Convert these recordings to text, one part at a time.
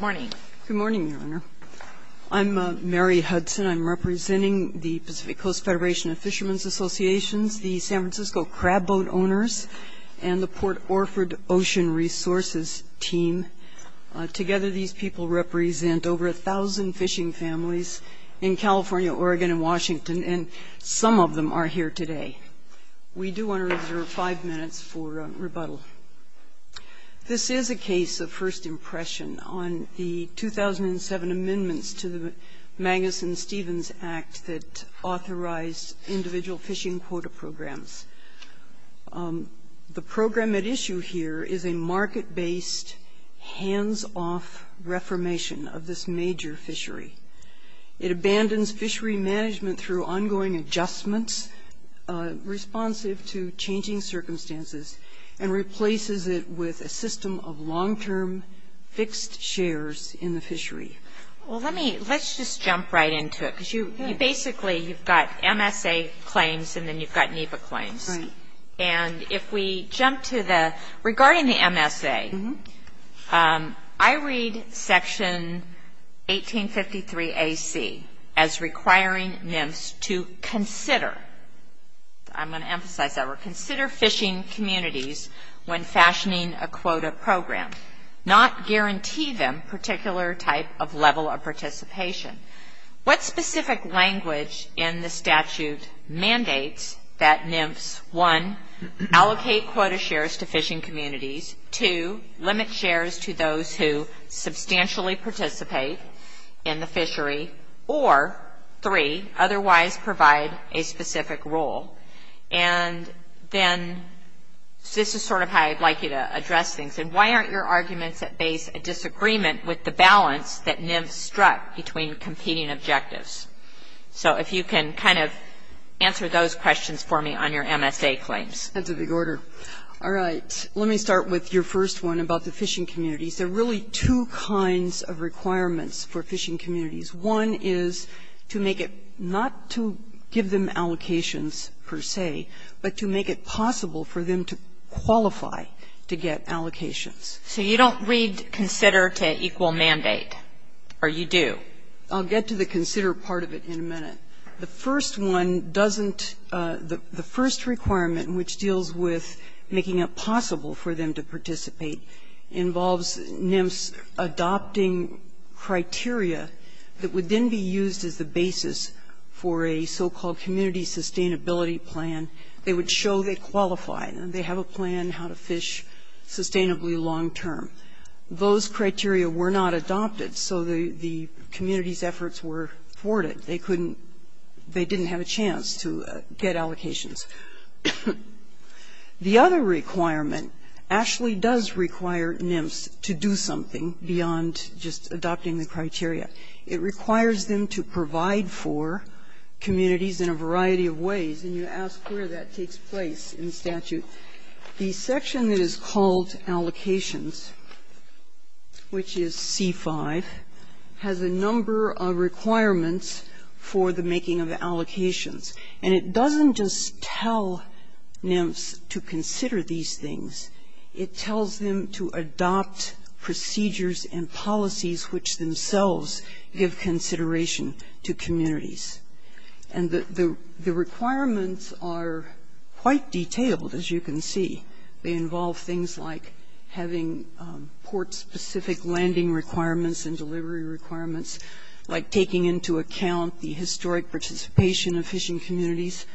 Good morning, Your Honor. I'm Mary Hudson. I'm representing the Pacific Coast Federation of Fishermen's Associations, the San Francisco Crab Boat Owners, and the Port Orford Ocean Resources Team. Together, these people represent over 1,000 fishing families in California, Oregon, and Washington, and some of them are here today. We do want to reserve five minutes for rebuttal. This is a case of first impression on the 2007 amendments to the Magnuson-Stevens Act that authorized individual fishing quota programs. The program at issue here is a market-based, hands-off reformation of this major fishery. It abandons fishery management through ongoing adjustments responsive to changing circumstances and replaces it with a system of long-term fixed shares in the fishery. Well, let's just jump right into it because basically you've got MSA claims and then you've got NEPA claims. Right. And if we jump to the, regarding the MSA, I read Section 1853AC as requiring NEMS to consider, I'm going to emphasize that word, consider fishing communities when fashioning a quota program, not guarantee them particular type of level of participation. What specific language in the statute mandates that NEMS, one, allocate quota shares to fishing communities, two, limit shares to those who substantially participate in the fishery, or three, otherwise provide a specific role? And then this is sort of how I'd like you to address things. And why aren't your arguments at base a disagreement with the balance that NEMS struck between competing objectives? So if you can kind of answer those questions for me on your MSA claims. That's a big order. All right. Let me start with your first one about the fishing communities. There are really two kinds of requirements for fishing communities. One is to make it not to give them allocations per se, but to make it possible for them to qualify to get allocations. So you don't read consider to equal mandate, or you do? I'll get to the consider part of it in a minute. The first one doesn't, the first requirement which deals with making it possible for them to participate involves NEMS adopting criteria that would then be used as the basis for a so-called community sustainability plan. They would show they qualify. They have a plan how to fish sustainably long-term. Those criteria were not adopted, so the community's efforts were thwarted. They couldn't, they didn't have a chance to get allocations. The other requirement actually does require NEMS to do something beyond just adopting the criteria. It requires them to provide for communities in a variety of ways, and you ask where that takes place in statute. The section that is called allocations, which is C-5, has a number of requirements for the making of allocations. And it doesn't just tell NEMS to consider these things. It tells them to adopt procedures and policies which themselves give consideration to communities. And the requirements are quite detailed, as you can see. They involve things like having port-specific landing requirements and delivery requirements, like taking into account the historic participation of fishing communities.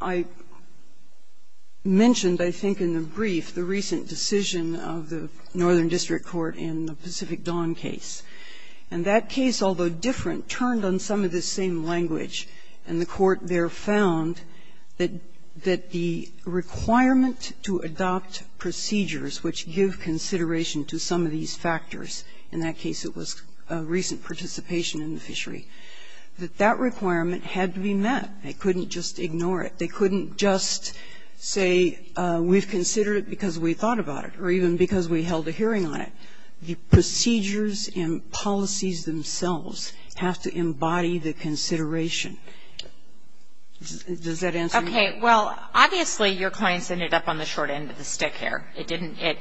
I mentioned, I think, in the brief, the recent decision of the Northern District Court in the Pacific Dawn case. And that case, although different, turned on some of the same language. And the Court there found that the requirement to adopt procedures which give consideration to some of these factors, in that case it was recent participation in the fishery, that that requirement had to be met. They couldn't just ignore it. They couldn't just say, we've considered it because we thought about it, or even because we held a hearing on it. The procedures and policies themselves have to embody the consideration. Does that answer your question? Okay, well, obviously your clients ended up on the short end of the stick here.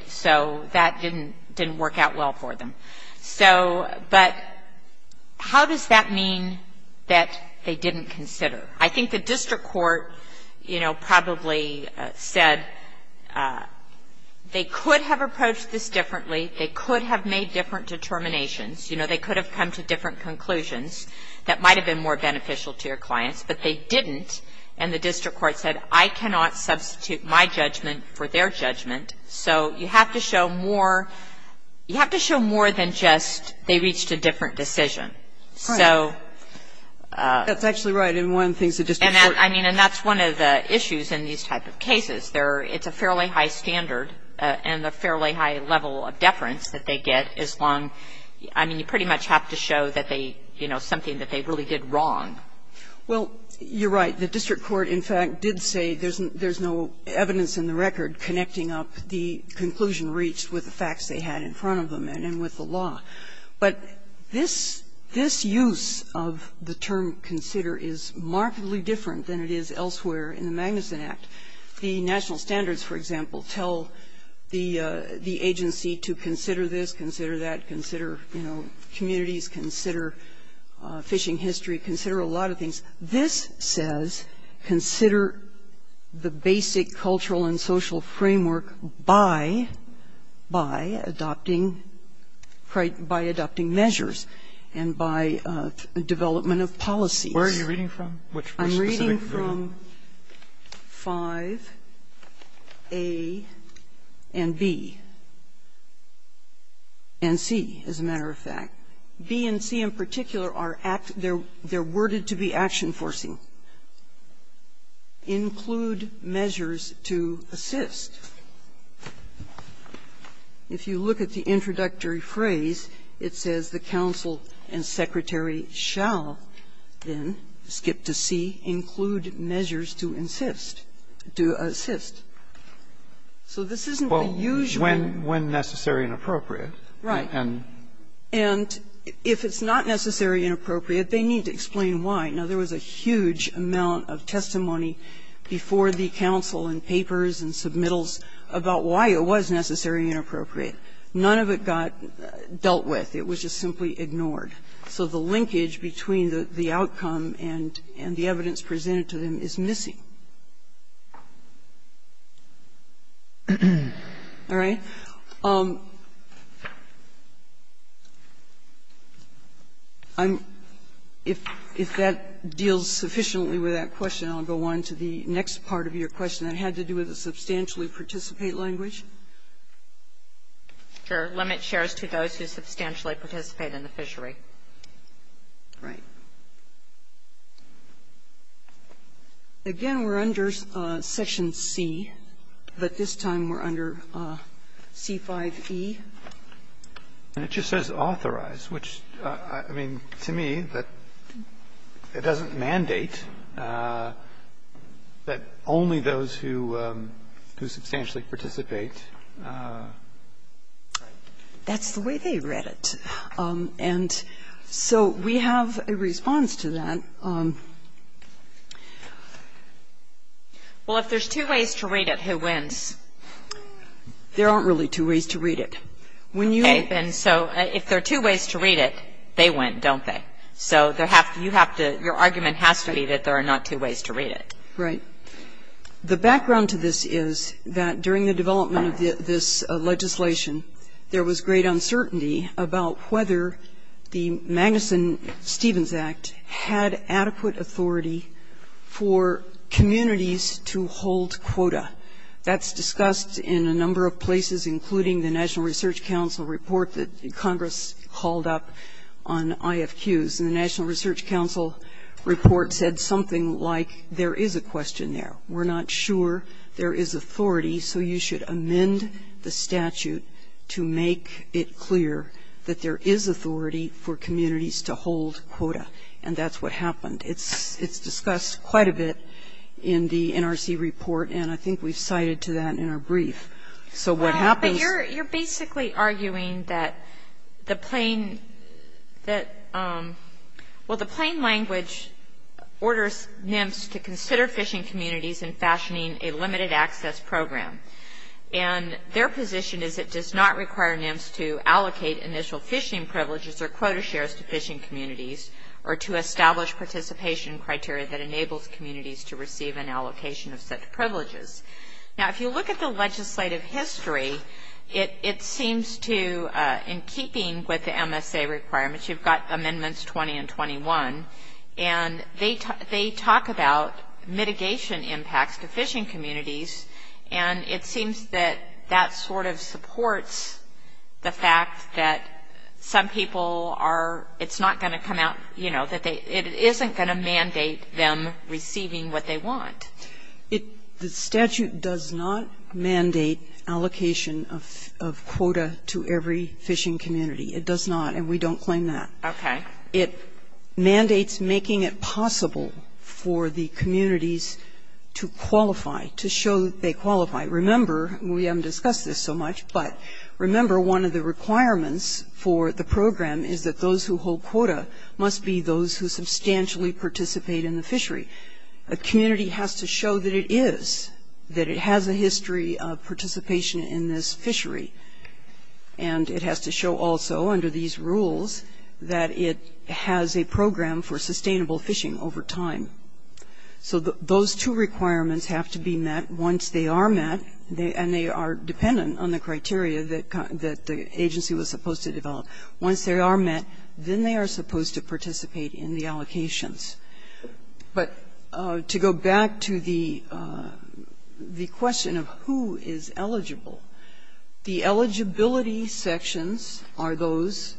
So that didn't work out well for them. But how does that mean that they didn't consider? I think the District Court, you know, probably said they could have approached this differently. They could have made different determinations. You know, they could have come to different conclusions that might have been more beneficial to your clients. But they didn't. And the District Court said, I cannot substitute my judgment for their judgment. So you have to show more. You have to show more than just they reached a different decision. So that's one of the issues in these types of cases. It's a fairly high standard and a fairly high level of deference that they get as long as you pretty much have to show that they, you know, something that they really did wrong. Well, you're right. The District Court, in fact, did say there's no evidence in the record connecting up the conclusion reached with the facts they had in front of them and with the law. But this use of the term consider is markedly different than it is elsewhere in the Magnuson Act. The national standards, for example, tell the agency to consider this, consider that, consider, you know, communities, consider fishing history, consider a lot of things. This says consider the basic cultural and social framework by adopting measures and by development of policies. Where are you reading from? I'm reading from 5A and B. And C, as a matter of fact. B and C in particular are act they're worded to be action-forcing. Include measures to assist. If you look at the introductory phrase, it says the counsel and secretary shall then, skip to C, include measures to insist, to assist. So this isn't the usual. Well, when necessary and appropriate. Right. And if it's not necessary and appropriate, they need to explain why. Now, there was a huge amount of testimony before the counsel in papers and submittals about why it was necessary and appropriate. None of it got dealt with. It was just simply ignored. So the linkage between the outcome and the evidence presented to them is missing. All right. If that deals sufficiently with that question, I'll go on to the next part of your question that had to do with the substantially participate language. Sure. Limit shares to those who substantially participate in the fishery. Right. Again, we're under section C, but this time we're under C-5e. And it just says authorize, which, I mean, to me, that doesn't mandate that only those who substantially participate. That's the way they read it. And so we have a response to that. Well, if there's two ways to read it, who wins? There aren't really two ways to read it. Okay. And so if there are two ways to read it, they win, don't they? So you have to ‑‑ your argument has to be that there are not two ways to read it. Right. The background to this is that during the development of this legislation, there was great uncertainty about whether the Magnuson-Stevens Act had adequate authority for communities to hold quota. That's discussed in a number of places, including the National Research Council report that Congress called up on IFQs. And the National Research Council report said something like, there is a question there. We're not sure there is authority, so you should amend the statute to make it clear that there is authority for communities to hold quota. And that's what happened. It's discussed quite a bit in the NRC report, and I think we've cited to that in our brief. So what happens ‑‑ But you're basically arguing that the plain ‑‑ well, the plain language orders NIMS to consider fishing communities in fashioning a limited access program. And their position is it does not require NIMS to allocate initial fishing privileges or quota shares to fishing communities, or to establish participation criteria that enables communities to receive an allocation of such privileges. Now, if you look at the legislative history, it seems to, in keeping with the MSA requirements, you've got Amendments 20 and 21, and they talk about mitigation impacts to fishing communities, and it seems that that sort of supports the fact that some people are, it's not going to come out, you know, that it isn't going to mandate them receiving what they want. The statute does not mandate allocation of quota to every fishing community. It does not, and we don't claim that. Okay. It mandates making it possible for the communities to qualify, to show that they qualify. Remember, we haven't discussed this so much, but remember one of the requirements for the program is that those who hold quota must be those who substantially participate in the fishery. A community has to show that it is, that it has a history of participation in this fishery. And it has to show also under these rules that it has a program for sustainable fishing over time. So those two requirements have to be met once they are met, and they are dependent on the criteria that the agency was supposed to develop. Once they are met, then they are supposed to participate in the allocations. But to go back to the question of who is eligible, the eligibility sections are those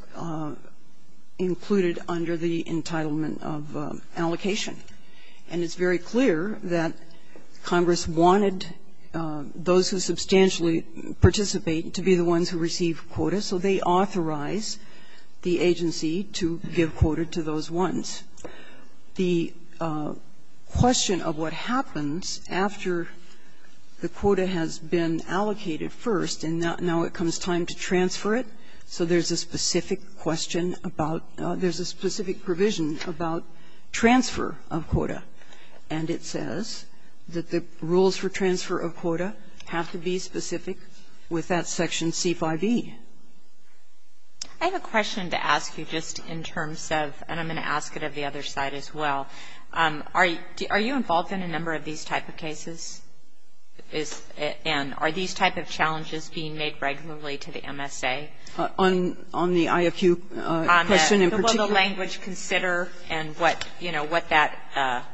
included under the entitlement of allocation. And it's very clear that Congress wanted those who substantially participate to be the ones who receive quota. So they authorize the agency to give quota to those ones. The question of what happens after the quota has been allocated first, and now it comes time to transfer it. So there's a specific question about, there's a specific provision about transfer of quota. And it says that the rules for transfer of quota have to be specific with that Section C-5e. I have a question to ask you just in terms of, and I'm going to ask it of the other side as well. Are you involved in a number of these type of cases? And are these type of challenges being made regularly to the MSA? On the IFU question in particular? Will the language consider and what, you know, what that,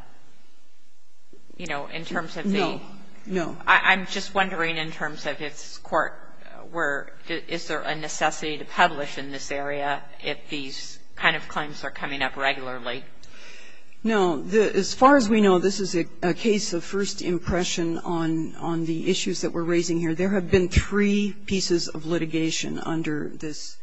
you know, in terms of the? No, no. I'm just wondering in terms of if this Court were, is there a necessity to publish in this area if these kind of claims are coming up regularly? No. As far as we know, this is a case of first impression on the issues that we're raising here. There have been three pieces of litigation under this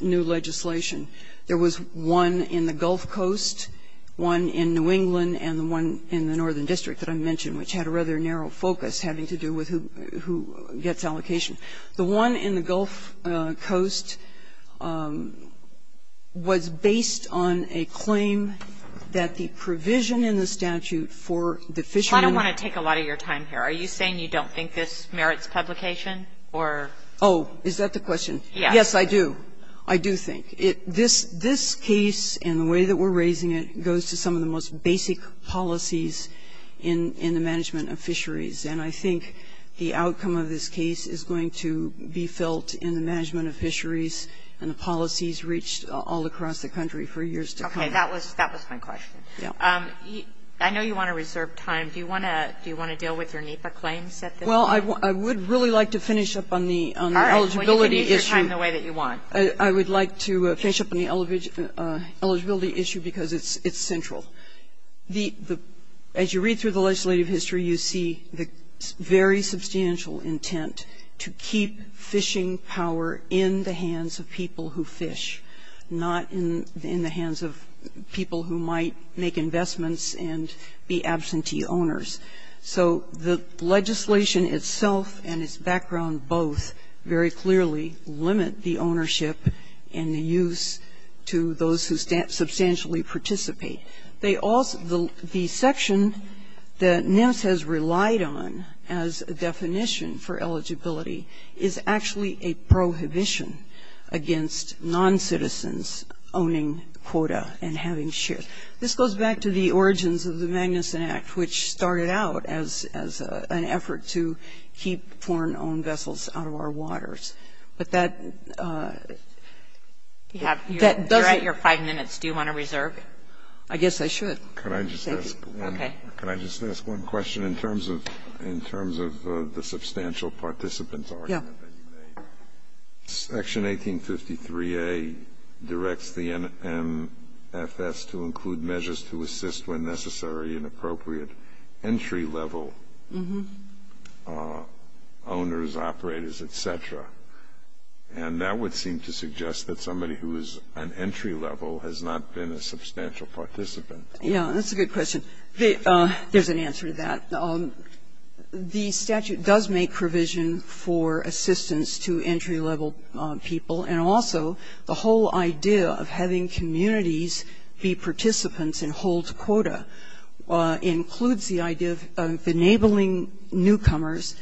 new legislation. There was one in the Gulf Coast, one in New England, and the one in the Northern District that I mentioned, which had a rather narrow focus having to do with who gets allocation. The one in the Gulf Coast was based on a claim that the provision in the statute for the fishermen. I don't want to take a lot of your time here. Are you saying you don't think this merits publication or? Oh, is that the question? Yes, I do. I do think. This case and the way that we're raising it goes to some of the most basic policies in the management of fisheries. And I think the outcome of this case is going to be felt in the management of fisheries and the policies reached all across the country for years to come. Okay. That was my question. Yeah. I know you want to reserve time. Do you want to deal with your NEPA claims at this time? Well, I would really like to finish up on the eligibility issue. All right. Well, you can use your time the way that you want. I would like to finish up on the eligibility issue because it's central. As you read through the legislative history, you see the very substantial intent to keep fishing power in the hands of people who fish, not in the hands of people who might make investments and be absentee owners. So the legislation itself and its background both very clearly limit the ownership and the use to those who substantially participate. The section that NEMS has relied on as a definition for eligibility is actually a prohibition against non-citizens owning quota and having shares. This goes back to the origins of the Magnuson Act, which started out as an effort to keep foreign-owned vessels out of our waters. But that doesn't You're at your five minutes. Do you want to reserve? I guess I should. Can I just ask one question in terms of the substantial participant argument that you made? Yeah. Section 1853A directs the NMFS to include measures to assist when necessary and appropriate entry-level owners, operators, et cetera. And that would seem to suggest that somebody who is an entry-level has not been a substantial participant. Yeah, that's a good question. There's an answer to that. The statute does make provision for assistance to entry-level people, and also the whole idea of having communities be participants and hold quota includes the idea of enabling newcomers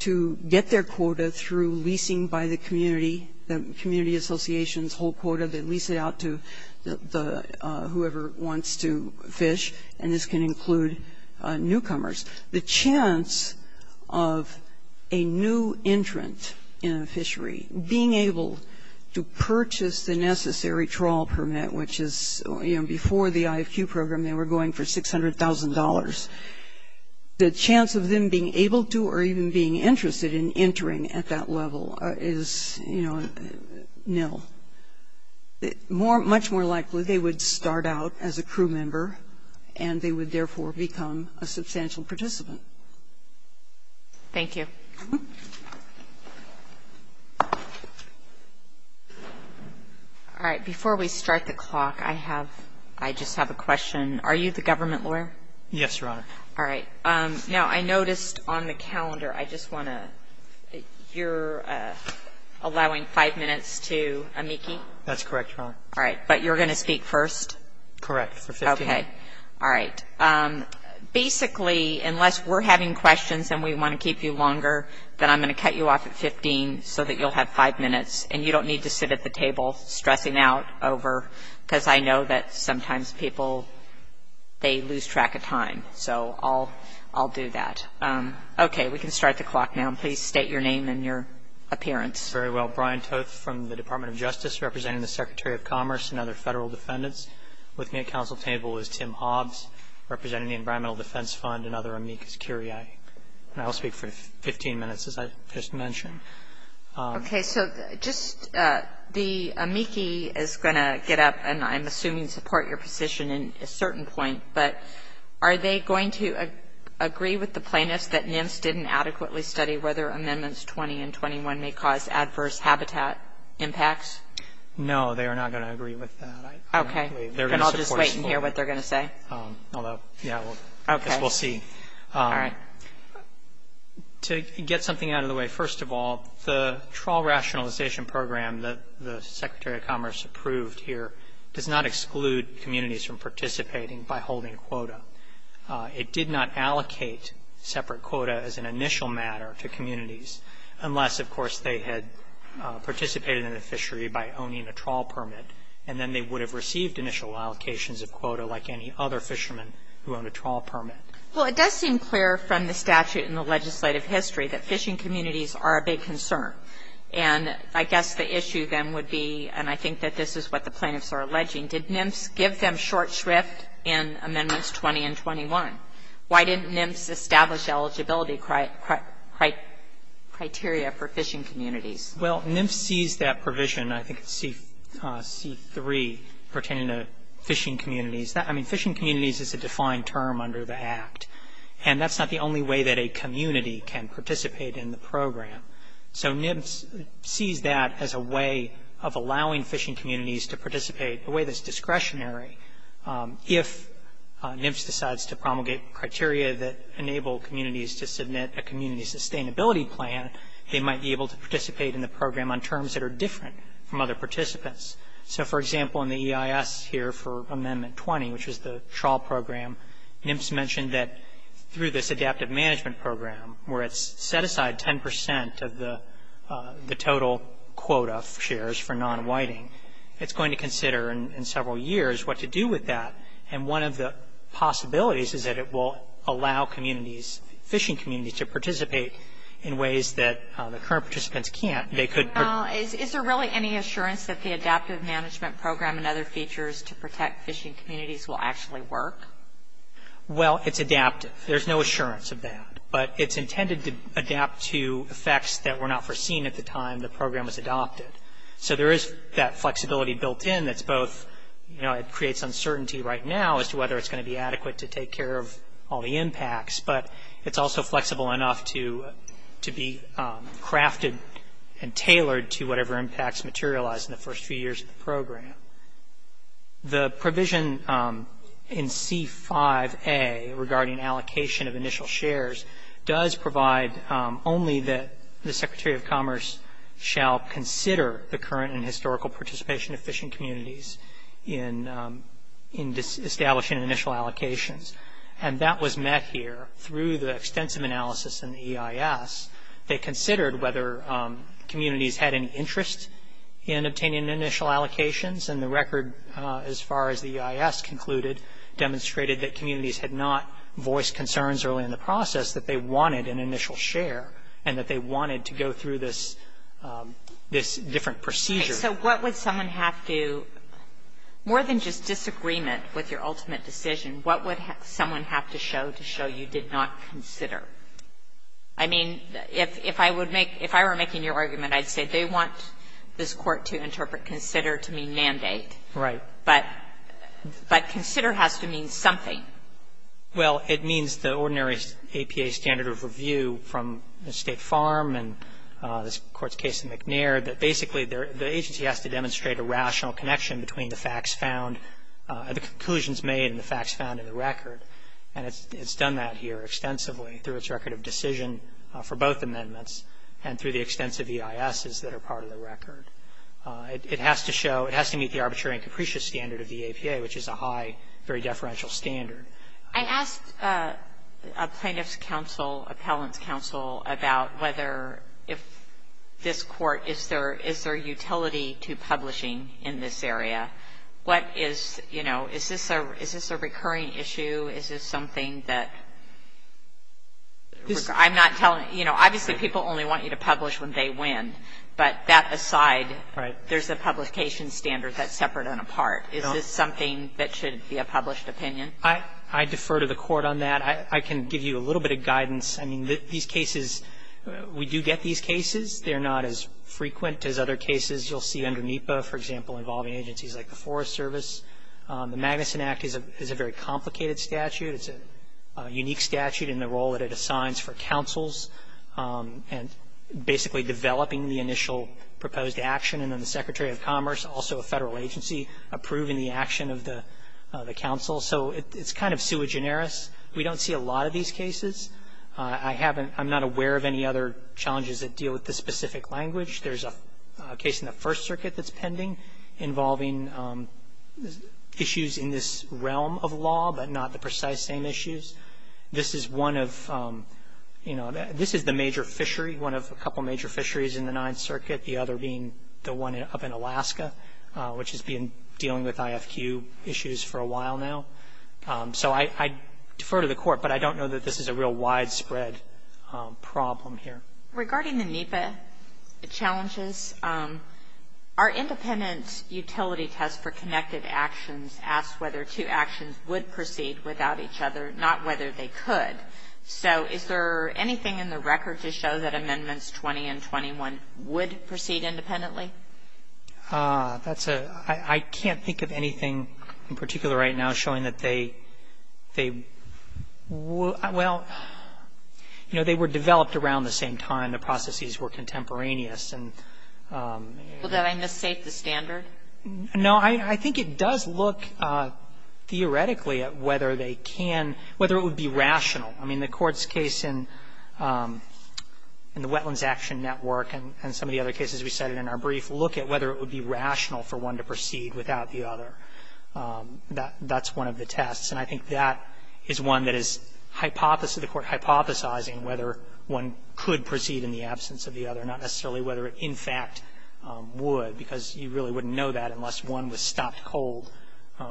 to get their quota through leasing by the community, the community association's whole quota. They lease it out to whoever wants to fish, and this can include newcomers. The chance of a new entrant in a fishery being able to purchase the necessary trawl permit, which is before the IFQ program they were going for $600,000, the chance of them being able to or even being interested in entering at that level is, you know, nil. Much more likely they would start out as a crew member, and they would therefore become a substantial participant. Thank you. All right. Before we start the clock, I just have a question. Are you the government lawyer? Yes, Your Honor. All right. Now, I noticed on the calendar, I just want to, you're allowing five minutes to amici? That's correct, Your Honor. All right. But you're going to speak first? Correct, for 15 minutes. Okay. All right. Basically, unless we're having questions and we want to keep you longer, then I'm going to cut you off at 15 so that you'll have five minutes, and you don't need to sit at the table stressing out over, because I know that sometimes people, they lose track of time. So I'll do that. Okay. We can start the clock now. Please state your name and your appearance. Very well. Brian Toth from the Department of Justice, representing the Secretary of Commerce and other federal defendants. With me at counsel table is Tim Hobbs, representing the Environmental Defense Fund and other amici curiae. And I will speak for 15 minutes, as I just mentioned. Okay. So just the amici is going to get up, and I'm assuming support your position in a certain point. But are they going to agree with the plaintiffs that NIMS didn't adequately study whether Amendments 20 and 21 may cause adverse habitat impacts? No, they are not going to agree with that. Okay. I'll just wait and hear what they're going to say. Although, yes, we'll see. All right. To get something out of the way, first of all, the Trawl Rationalization Program that the Secretary of Commerce approved here does not exclude communities from participating by holding quota. It did not allocate separate quota as an initial matter to communities, unless, of course, they had participated in the fishery by owning a trawl permit, and then they would have received initial allocations of quota, like any other fisherman who owned a trawl permit. Well, it does seem clear from the statute and the legislative history that fishing communities are a big concern. And I guess the issue then would be, and I think that this is what the plaintiffs are alleging, did NIMS give them short shrift in Amendments 20 and 21? Why didn't NIMS establish eligibility criteria for fishing communities? Well, NIMS sees that provision, I think it's C3, pertaining to fishing communities. I mean, fishing communities is a defined term under the Act, and that's not the only way that a community can participate in the program. So NIMS sees that as a way of allowing fishing communities to participate, a way that's discretionary. If NIMS decides to promulgate criteria that enable communities to submit a community sustainability plan, they might be able to participate in the program on terms that are different from other participants. So, for example, in the EIS here for Amendment 20, which is the trawl program, NIMS mentioned that through this adaptive management program, where it's set aside 10 percent of the total quota shares for non-whiting, it's going to consider in several years what to do with that. And one of the possibilities is that it will allow communities, fishing communities to participate in ways that the current participants can't. Is there really any assurance that the adaptive management program and other features to protect fishing communities will actually work? Well, it's adaptive. There's no assurance of that, but it's intended to adapt to effects that were not foreseen at the time the program was adopted. So there is that flexibility built in that's both, you know, it creates uncertainty right now as to whether it's going to be adequate to take care of all the impacts, but it's also flexible enough to be crafted and tailored to whatever impacts materialize in the first few years of the program. The provision in C5A regarding allocation of initial shares does provide only that the Secretary of Commerce shall consider the current and historical participation of fishing communities in establishing initial allocations. And that was met here through the extensive analysis in the EIS. They considered whether communities had any interest in obtaining initial allocations, and the record, as far as the EIS concluded, demonstrated that communities had not voiced concerns early in the process that they wanted an initial share and that they wanted to go through this different procedure. So what would someone have to, more than just disagreement with your ultimate decision, what would someone have to show to show you did not consider? I mean, if I were making your argument, I'd say they want this Court to interpret consider to mean mandate. Right. But consider has to mean something. Well, it means the ordinary APA standard of review from the State Farm and this Court's case in McNair, that basically the agency has to demonstrate a rational connection between the facts made and the facts found in the record. And it's done that here extensively through its record of decision for both amendments and through the extensive EISs that are part of the record. It has to show, it has to meet the arbitrary and capricious standard of the APA, which is a high, very deferential standard. I asked a plaintiff's counsel, appellant's counsel, about whether if this Court, is there utility to publishing in this area? What is, you know, is this a recurring issue? Is this something that, I'm not telling, you know, obviously people only want you to publish when they win. But that aside, there's a publication standard that's separate and apart. Is this something that should be a published opinion? I defer to the Court on that. I can give you a little bit of guidance. I mean, these cases, we do get these cases. They're not as frequent as other cases. You'll see under NEPA, for example, involving agencies like the Forest Service. The Magnuson Act is a very complicated statute. It's a unique statute in the role that it assigns for counsels, and basically developing the initial proposed action, and then the Secretary of Commerce, also a Federal agency, approving the action of the counsel. So it's kind of sui generis. We don't see a lot of these cases. I haven't, I'm not aware of any other challenges that deal with this specific language. There's a case in the First Circuit that's pending involving issues in this realm of law, but not the precise same issues. This is one of, you know, this is the major fishery, one of a couple major fisheries in the Ninth Circuit, the other being the one up in Alaska, which has been dealing with IFQ issues for a while now. So I defer to the Court, but I don't know that this is a real widespread problem here. Regarding the NEPA challenges, our independent utility test for connected actions asks whether two actions would proceed without each other, not whether they could. So is there anything in the record to show that Amendments 20 and 21 would proceed independently? That's a, I can't think of anything in particular right now showing that they, they would, well, you know, they were developed around the same time. The processes were contemporaneous and Well, did I miss state the standard? No, I think it does look theoretically at whether they can, whether it would be rational. I mean, the Court's case in the Wetlands Action Network and some of the other cases we cited in our brief look at whether it would be rational for one to proceed without the other. That's one of the tests. And I think that is one that is hypothesis, the Court hypothesizing whether one could proceed in the absence of the other, not necessarily whether it, in fact, would, because you really wouldn't know that unless one was stopped cold,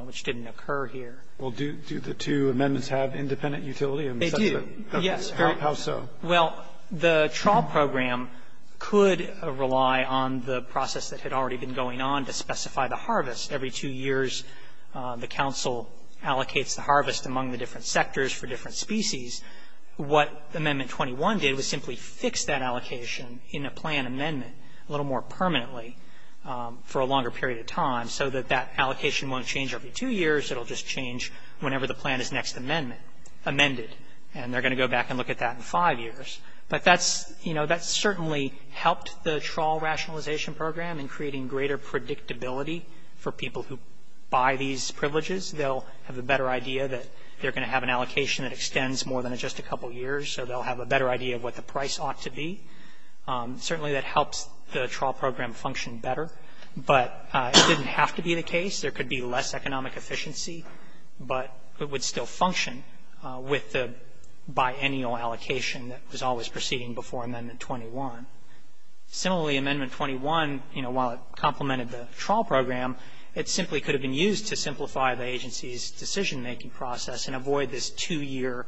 which didn't occur here. Well, do the two amendments have independent utility? They do. Yes. How so? Well, the trial program could rely on the process that had already been going on to harvest among the different sectors for different species. What Amendment 21 did was simply fix that allocation in a plan amendment a little more permanently for a longer period of time so that that allocation won't change every two years, it will just change whenever the plan is next amendment, amended. And they're going to go back and look at that in five years. But that's, you know, that certainly helped the trial rationalization program in creating greater predictability for people who buy these privileges. They'll have a better idea that they're going to have an allocation that extends more than just a couple of years, so they'll have a better idea of what the price ought to be. Certainly that helps the trial program function better. But it didn't have to be the case. There could be less economic efficiency, but it would still function with the biennial allocation that was always proceeding before Amendment 21. Similarly, Amendment 21, you know, while it complemented the trial program, it simply could have been used to simplify the agency's decision-making process and avoid this two-year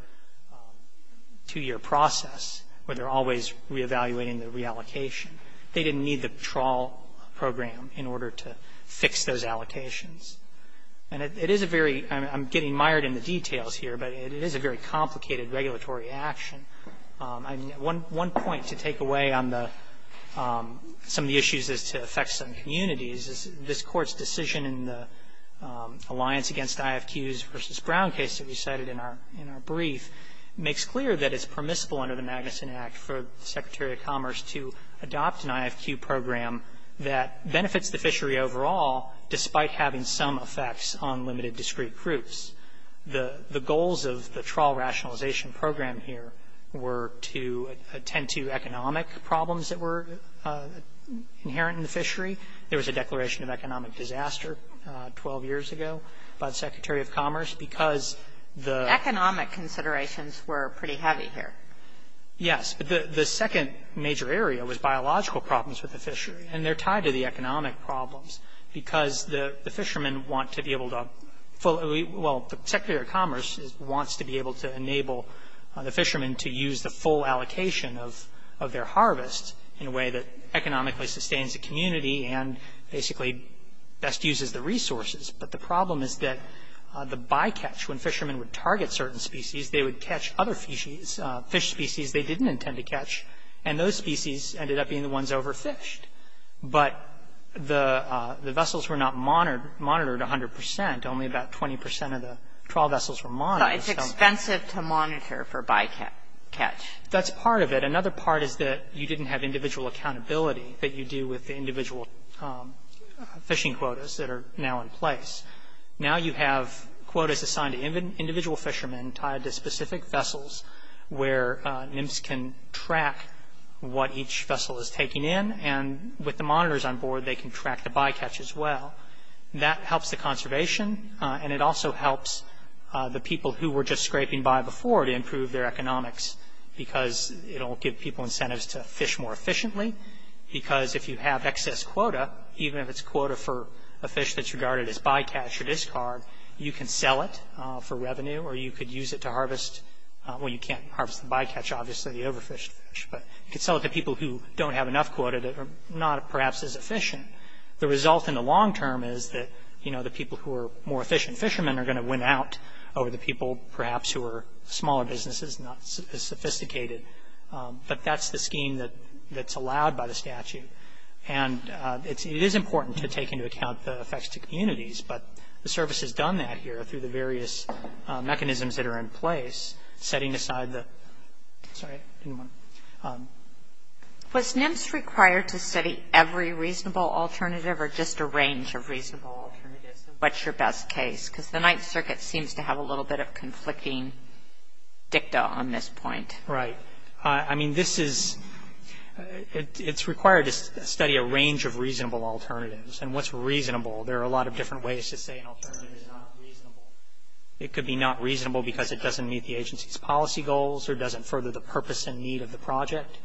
process where they're always reevaluating the reallocation. They didn't need the trial program in order to fix those allocations. And it is a very — I'm getting mired in the details here, but it is a very complicated regulatory action. I mean, one point to take away on the — some of the issues as to affect some communities is this Court's decision in the Alliance Against IFQs v. Brown case that we cited in our — in our brief makes clear that it's permissible under the Magnuson Act for the Secretary of Commerce to adopt an IFQ program that benefits the fishery overall despite having some effects on limited discrete groups. The goals of the trial rationalization program here were to attend to economic problems that were inherent in the fishery. There was a declaration of economic disaster 12 years ago by the Secretary of Commerce because the — Kagan. Economic considerations were pretty heavy here. Feigin. Yes. But the second major area was biological problems with the fishery. And they're tied to the economic problems because the fishermen want to be able to fully — well, the Secretary of Commerce wants to be able to enable the fishermen to use the full allocation of their harvest in a way that economically sustains the community and basically best uses the resources. But the problem is that the bycatch, when fishermen would target certain species, they would catch other fish species they didn't intend to catch, and those species ended up being the ones overfished. But the vessels were not monitored 100 percent. Only about 20 percent of the trial vessels were monitored. So it's expensive to monitor for bycatch. That's part of it. Another part is that you didn't have individual accountability that you do with the individual fishing quotas that are now in place. Now you have quotas assigned to individual fishermen tied to specific vessels where NIMS can track what each vessel is taking in, and with the monitors on board, they can track the bycatch as well. That helps the conservation, and it also helps the people who were just scraping by before to improve their economics because it will give people incentives to fish more efficiently because if you have excess quota, even if it's quota for a fish that's regarded as bycatch or discard, you can sell it for revenue, or you could use it to harvest when you can't harvest the bycatch, obviously the overfished fish. But you could sell it to people who don't have enough quota that are not perhaps as efficient. The result in the long term is that, you know, the people who are more efficient fishermen are going to win out over the people perhaps who are smaller businesses, not as sophisticated. But that's the scheme that's allowed by the statute. And it is important to take into account the effects to communities, but the service has done that here through the various mechanisms that are in place, setting aside the – sorry, I didn't want to – Was NIMS required to study every reasonable alternative or just a range of reasonable alternatives? What's your best case? Because the Ninth Circuit seems to have a little bit of conflicting dicta on this point. Right. I mean, this is – it's required to study a range of reasonable alternatives. And what's reasonable? There are a lot of different ways to say an alternative is not reasonable. It could be not reasonable because it doesn't meet the agency's policy goals or doesn't further the purpose and need of the project,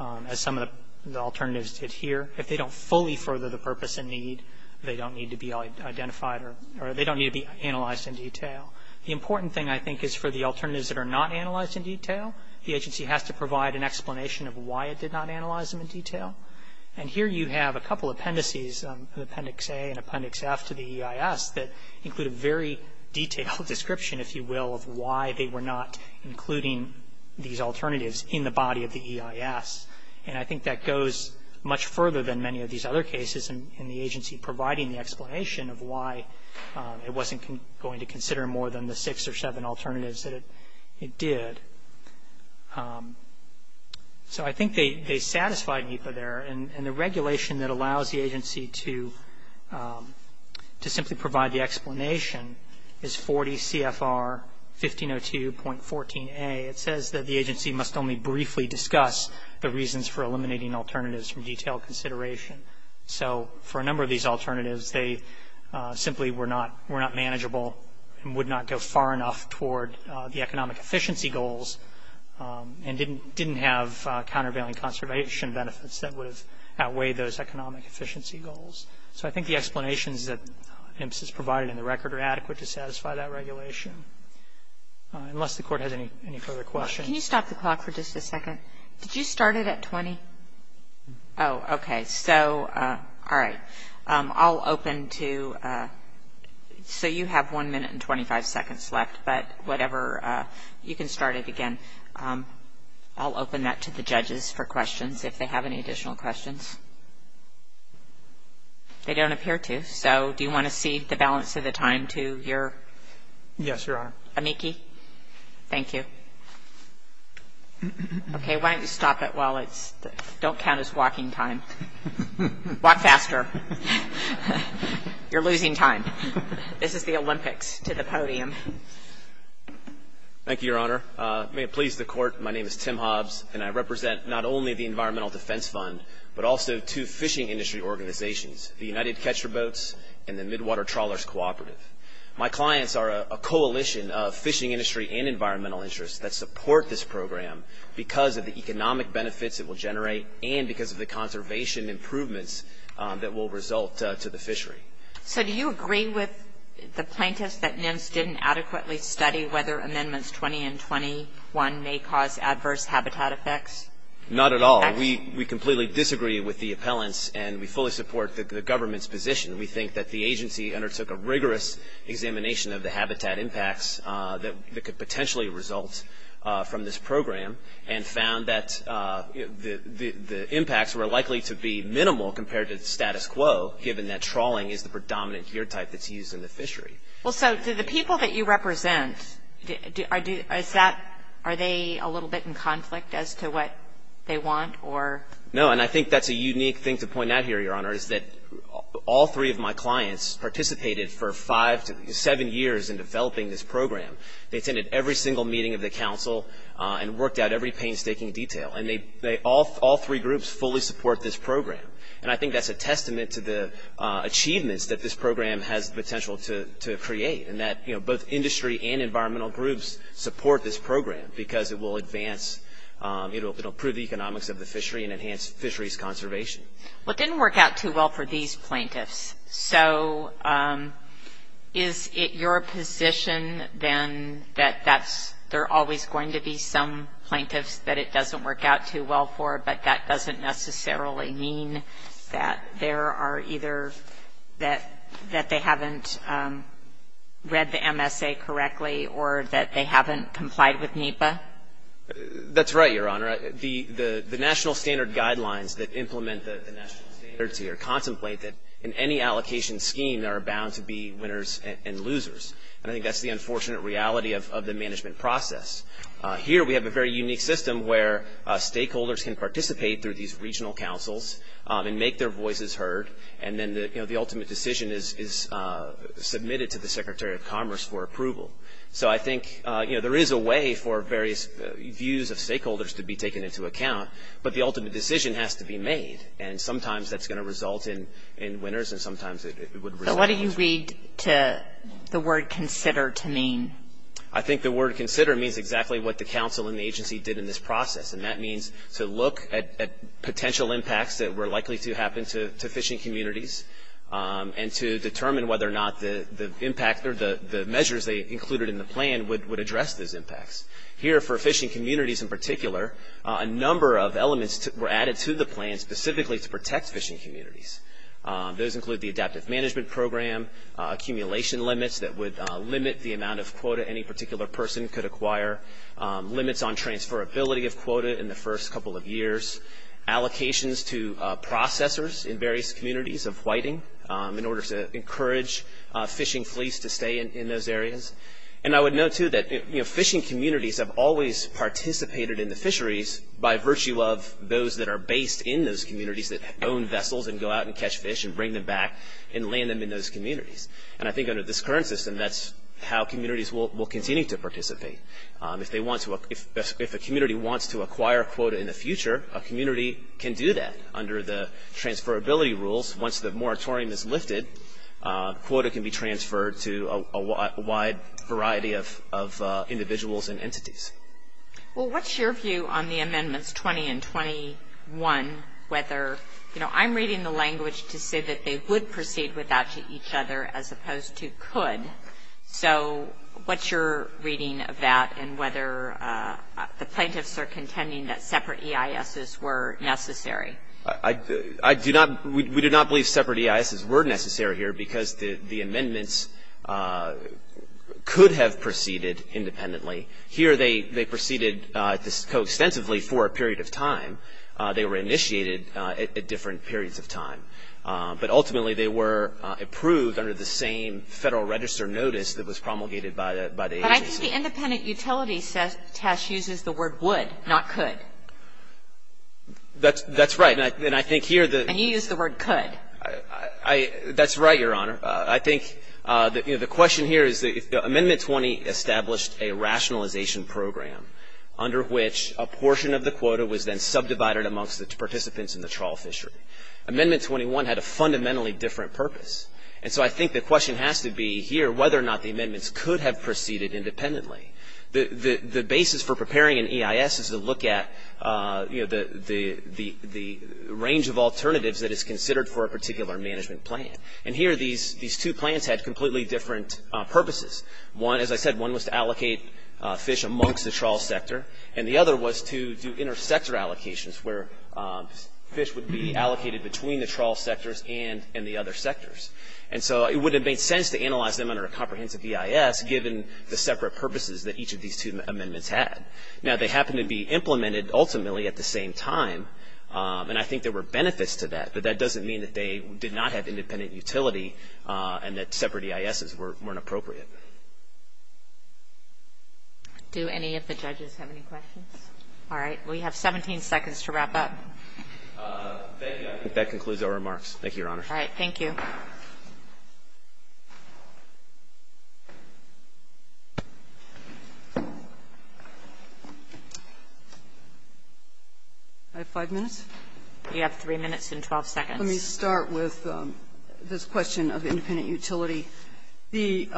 as some of the alternatives did here. If they don't fully further the purpose and need, they don't need to be identified or they don't need to be analyzed in detail. The important thing, I think, is for the alternatives that are not analyzed in detail, the agency has to provide an explanation of why it did not analyze them in detail. And here you have a couple appendices, Appendix A and Appendix F to the EIS, that include a very detailed description, if you will, of why they were not including these alternatives in the body of the EIS. And I think that goes much further than many of these other cases in the agency providing the explanation of why it wasn't going to consider more than the six or seven alternatives that it did. So I think they satisfied NEPA there. And the regulation that allows the agency to simply provide the explanation is 40 CFR 1502.14a. It says that the agency must only briefly discuss the reasons for eliminating alternatives from detailed consideration. So for a number of these alternatives, they simply were not manageable and would not go far enough toward the economic efficiency goals and didn't have countervailing conservation benefits that would have outweighed those economic efficiency goals. So I think the explanations that IMSS has provided in the record are adequate to satisfy that regulation. Unless the Court has any further questions. Can you stop the clock for just a second? Did you start it at 20? Oh, okay. So, all right. I'll open to so you have one minute and 25 seconds left, but whatever, you can start it again. I'll open that to the judges for questions if they have any additional questions. They don't appear to. So do you want to see the balance of the time to your? Yes, Your Honor. Amiki? Thank you. Okay, why don't you stop it while it's, don't count as walking time. Walk faster. You're losing time. This is the Olympics to the podium. Thank you, Your Honor. May it please the Court, my name is Tim Hobbs, and I represent not only the Environmental Defense Fund, but also two fishing industry organizations, the United Catcher Boats and the Midwater Trawlers Cooperative. My clients are a coalition of fishing industry and environmental interests that support this program because of the economic benefits it will generate and because of the conservation improvements that will result to the fishery. So do you agree with the plaintiffs that NIMS didn't adequately study whether Amendments 20 and 21 may cause adverse habitat effects? Not at all. We completely disagree with the appellants, and we fully support the government's position. We think that the agency undertook a rigorous examination of the habitat impacts that could potentially result from this program and found that the impacts were likely to be minimal compared to the status quo, given that trawling is the predominant gear type that's used in the fishery. Well, so do the people that you represent, are they a little bit in conflict as to what they want? No, and I think that's a unique thing to point out here, Your Honor, is that all three of my clients participated for five to seven years in developing this program. They attended every single meeting of the council and worked out every painstaking detail, and all three groups fully support this program. And I think that's a testament to the achievements that this program has the potential to create and that both industry and environmental groups support this program because it will advance, it will improve the economics of the fishery and enhance fisheries conservation. Well, it didn't work out too well for these plaintiffs. So is it your position then that there are always going to be some plaintiffs that it doesn't work out too well for, but that doesn't necessarily mean that there are either that they haven't read the MSA correctly or that they haven't complied with NEPA? That's right, Your Honor. The national standard guidelines that implement the national standards here contemplate that in any allocation scheme there are bound to be winners and losers, and I think that's the unfortunate reality of the management process. Here we have a very unique system where stakeholders can participate through these regional councils and make their voices heard, and then, you know, the ultimate decision is submitted to the Secretary of Commerce for approval. So I think, you know, there is a way for various views of stakeholders to be taken into account, but the ultimate decision has to be made, and sometimes that's going to result in winners and sometimes it would result in losers. So what do you read the word consider to mean? I think the word consider means exactly what the council and the agency did in this process, and that means to look at potential impacts that were likely to happen to fishing communities and to determine whether or not the impact or the measures they included in the plan would address those impacts. Here for fishing communities in particular, a number of elements were added to the plan specifically to protect fishing communities. Those include the adaptive management program, accumulation limits that would limit the amount of quota any particular person could acquire, limits on transferability of quota in the first couple of years, allocations to processors in various communities of whiting in order to encourage fishing fleets to stay in those areas. And I would note, too, that, you know, fishing communities have always participated in the fisheries by virtue of those that are based in those communities that own vessels and go out and catch fish and bring them back and land them in those communities. And I think under this current system, that's how communities will continue to participate. If a community wants to acquire quota in the future, a community can do that under the transferability rules. Once the moratorium is lifted, quota can be transferred to a wide variety of individuals and entities. Well, what's your view on the amendments 20 and 21, whether, you know, I'm reading the language to say that they would proceed with that to each other as opposed to could. So what's your reading of that and whether the plaintiffs are contending that separate EISs were necessary? I do not, we do not believe separate EISs were necessary here because the amendments could have proceeded independently. Here they proceeded coextensively for a period of time. They were initiated at different periods of time. But ultimately they were approved under the same Federal Register notice that was promulgated by the agency. But I think the independent utility test uses the word would, not could. That's right. And I think here the And you use the word could. That's right, Your Honor. I think, you know, the question here is that if Amendment 20 established a rationalization program under which a portion of the quota was then subdivided amongst the participants in the trawl fishery. Amendment 21 had a fundamentally different purpose. And so I think the question has to be here whether or not the amendments could have proceeded independently. The basis for preparing an EIS is to look at, you know, the range of alternatives that is considered for a particular management plan. And here these two plans had completely different purposes. One, as I said, one was to allocate fish amongst the trawl sector. And the other was to do intersector allocations where fish would be allocated between the trawl sectors and the other sectors. And so it would have made sense to analyze them under a comprehensive EIS, given the separate purposes that each of these two amendments had. Now they happened to be implemented ultimately at the same time. And I think there were benefits to that. But that doesn't mean that they did not have independent utility and that separate EISs weren't appropriate. Do any of the judges have any questions? All right. We have 17 seconds to wrap up. Thank you. I think that concludes our remarks. Thank you, Your Honor. All right. Thank you. I have five minutes. You have three minutes and 12 seconds. Let me start with this question of independent utility. The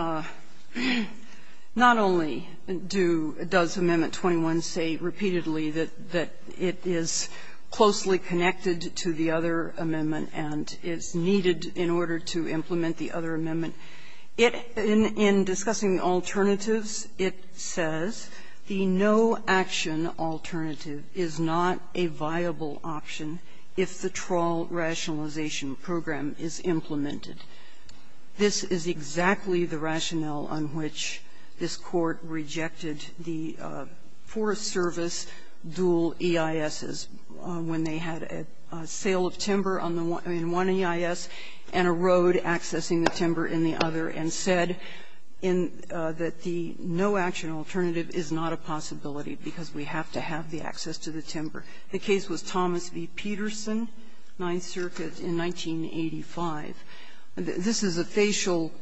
not only do does Amendment 21 say repeatedly that it is closely connected to the other amendment and is needed in order to implement the other amendment, in discussing the alternatives, it says, the no-action alternative is not a viable option if the trawl rationalization program is implemented. This is exactly the rationale on which this Court rejected the for-service dual EISs when they had a sale of timber on the one EIS and a road accessing the timber in the other, and said that the no-action alternative is not a possibility because we have to have the access to the timber. The case was Thomas v. Peterson, Ninth Circuit, in 1985. This is a facial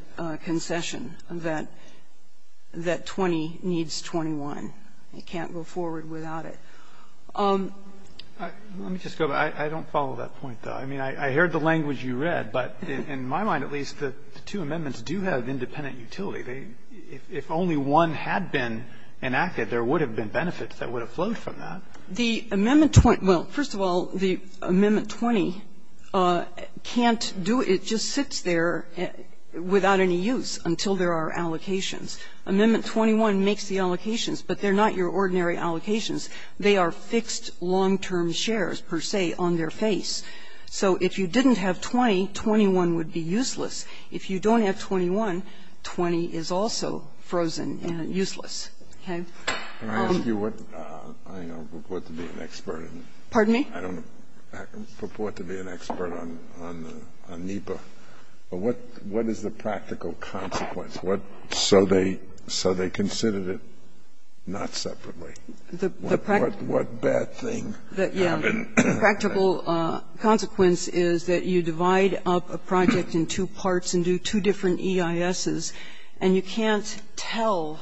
concession that 20 needs 21. It can't go forward without it. Let me just go back. I don't follow that point, though. I mean, I heard the language you read, but in my mind, at least, the two amendments do have independent utility. If only one had been enacted, there would have been benefits that would have flowed from that. The Amendment 20, well, first of all, the Amendment 20 can't do it. It just sits there without any use until there are allocations. Amendment 21 makes the allocations, but they're not your ordinary allocations. They are fixed long-term shares, per se, on their face. So if you didn't have 20, 21 would be useless. If you don't have 21, 20 is also frozen and useless. Okay? Scalia. Can I ask you what? I don't purport to be an expert. Kagan. Pardon me? I don't purport to be an expert on NEPA. What is the practical consequence? So they considered it not separately. What bad thing happened? The practical consequence is that you divide up a project in two parts and do two different EISs, and you can't tell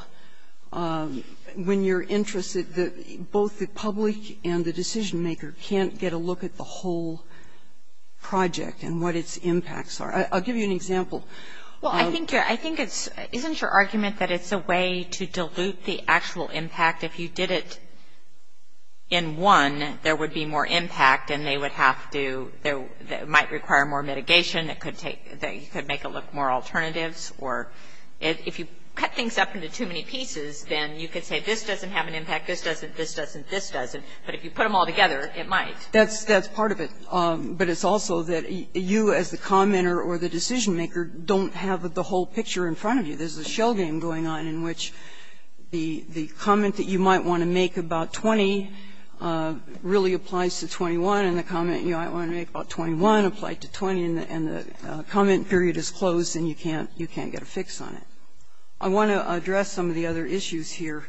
when you're interested that both the public and the decision-maker can't get a look at the whole project and what its impacts are. I'll give you an example. Well, I think it's isn't your argument that it's a way to dilute the actual impact? In fact, if you did it in one, there would be more impact, and they would have to do – it might require more mitigation. It could take – you could make it look more alternatives. Or if you cut things up into too many pieces, then you could say this doesn't have an impact, this doesn't, this doesn't, this doesn't. But if you put them all together, it might. That's part of it. But it's also that you as the commenter or the decision-maker don't have the whole picture in front of you. There's a shell game going on in which the comment that you might want to make about 20 really applies to 21, and the comment you might want to make about 21 applied to 20, and the comment period is closed and you can't get a fix on it. I want to address some of the other issues here.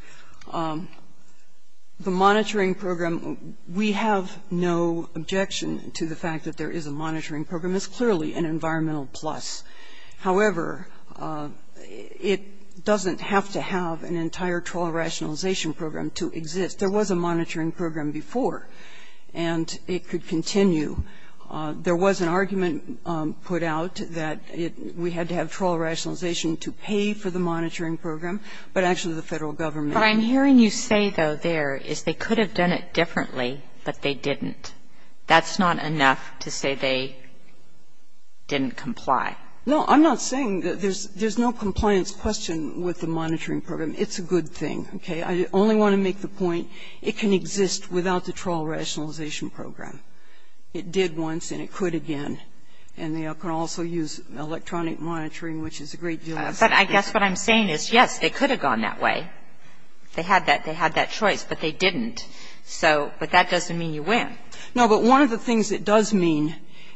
The monitoring program, we have no objection to the fact that there is a monitoring program. It's clearly an environmental plus. However, it doesn't have to have an entire trawl rationalization program to exist. There was a monitoring program before, and it could continue. There was an argument put out that we had to have trawl rationalization to pay for the monitoring program, but actually the Federal Government. What I'm hearing you say, though, there, is they could have done it differently, but they didn't. That's not enough to say they didn't comply. No, I'm not saying that there's no compliance question with the monitoring program. It's a good thing, okay? I only want to make the point it can exist without the trawl rationalization program. It did once and it could again, and they can also use electronic monitoring, which is a great deal less expensive. But I guess what I'm saying is, yes, they could have gone that way. They had that choice, but they didn't. So, but that doesn't mean you win. No, but one of the things it does mean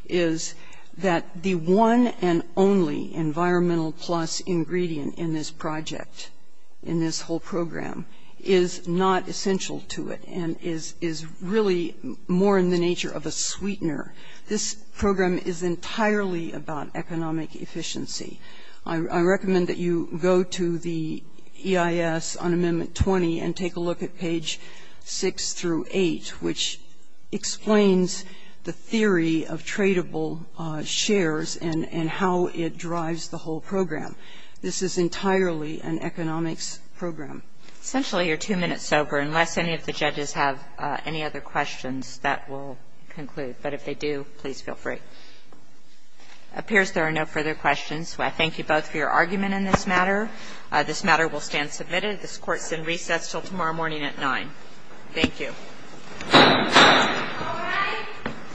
is that the one and only environmental plus ingredient in this project, in this whole program, is not essential to it and is really more in the nature of a sweetener. This program is entirely about economic efficiency. I recommend that you go to the EIS on Amendment 20 and take a look at page 6 through 8, which explains the theory of tradable shares and how it drives the whole program. This is entirely an economics program. Essentially, you're two minutes sober. Unless any of the judges have any other questions, that will conclude. But if they do, please feel free. It appears there are no further questions. I thank you both for your argument in this matter. This matter will stand submitted. This Court is in recess until tomorrow morning at 9. Thank you. All rise.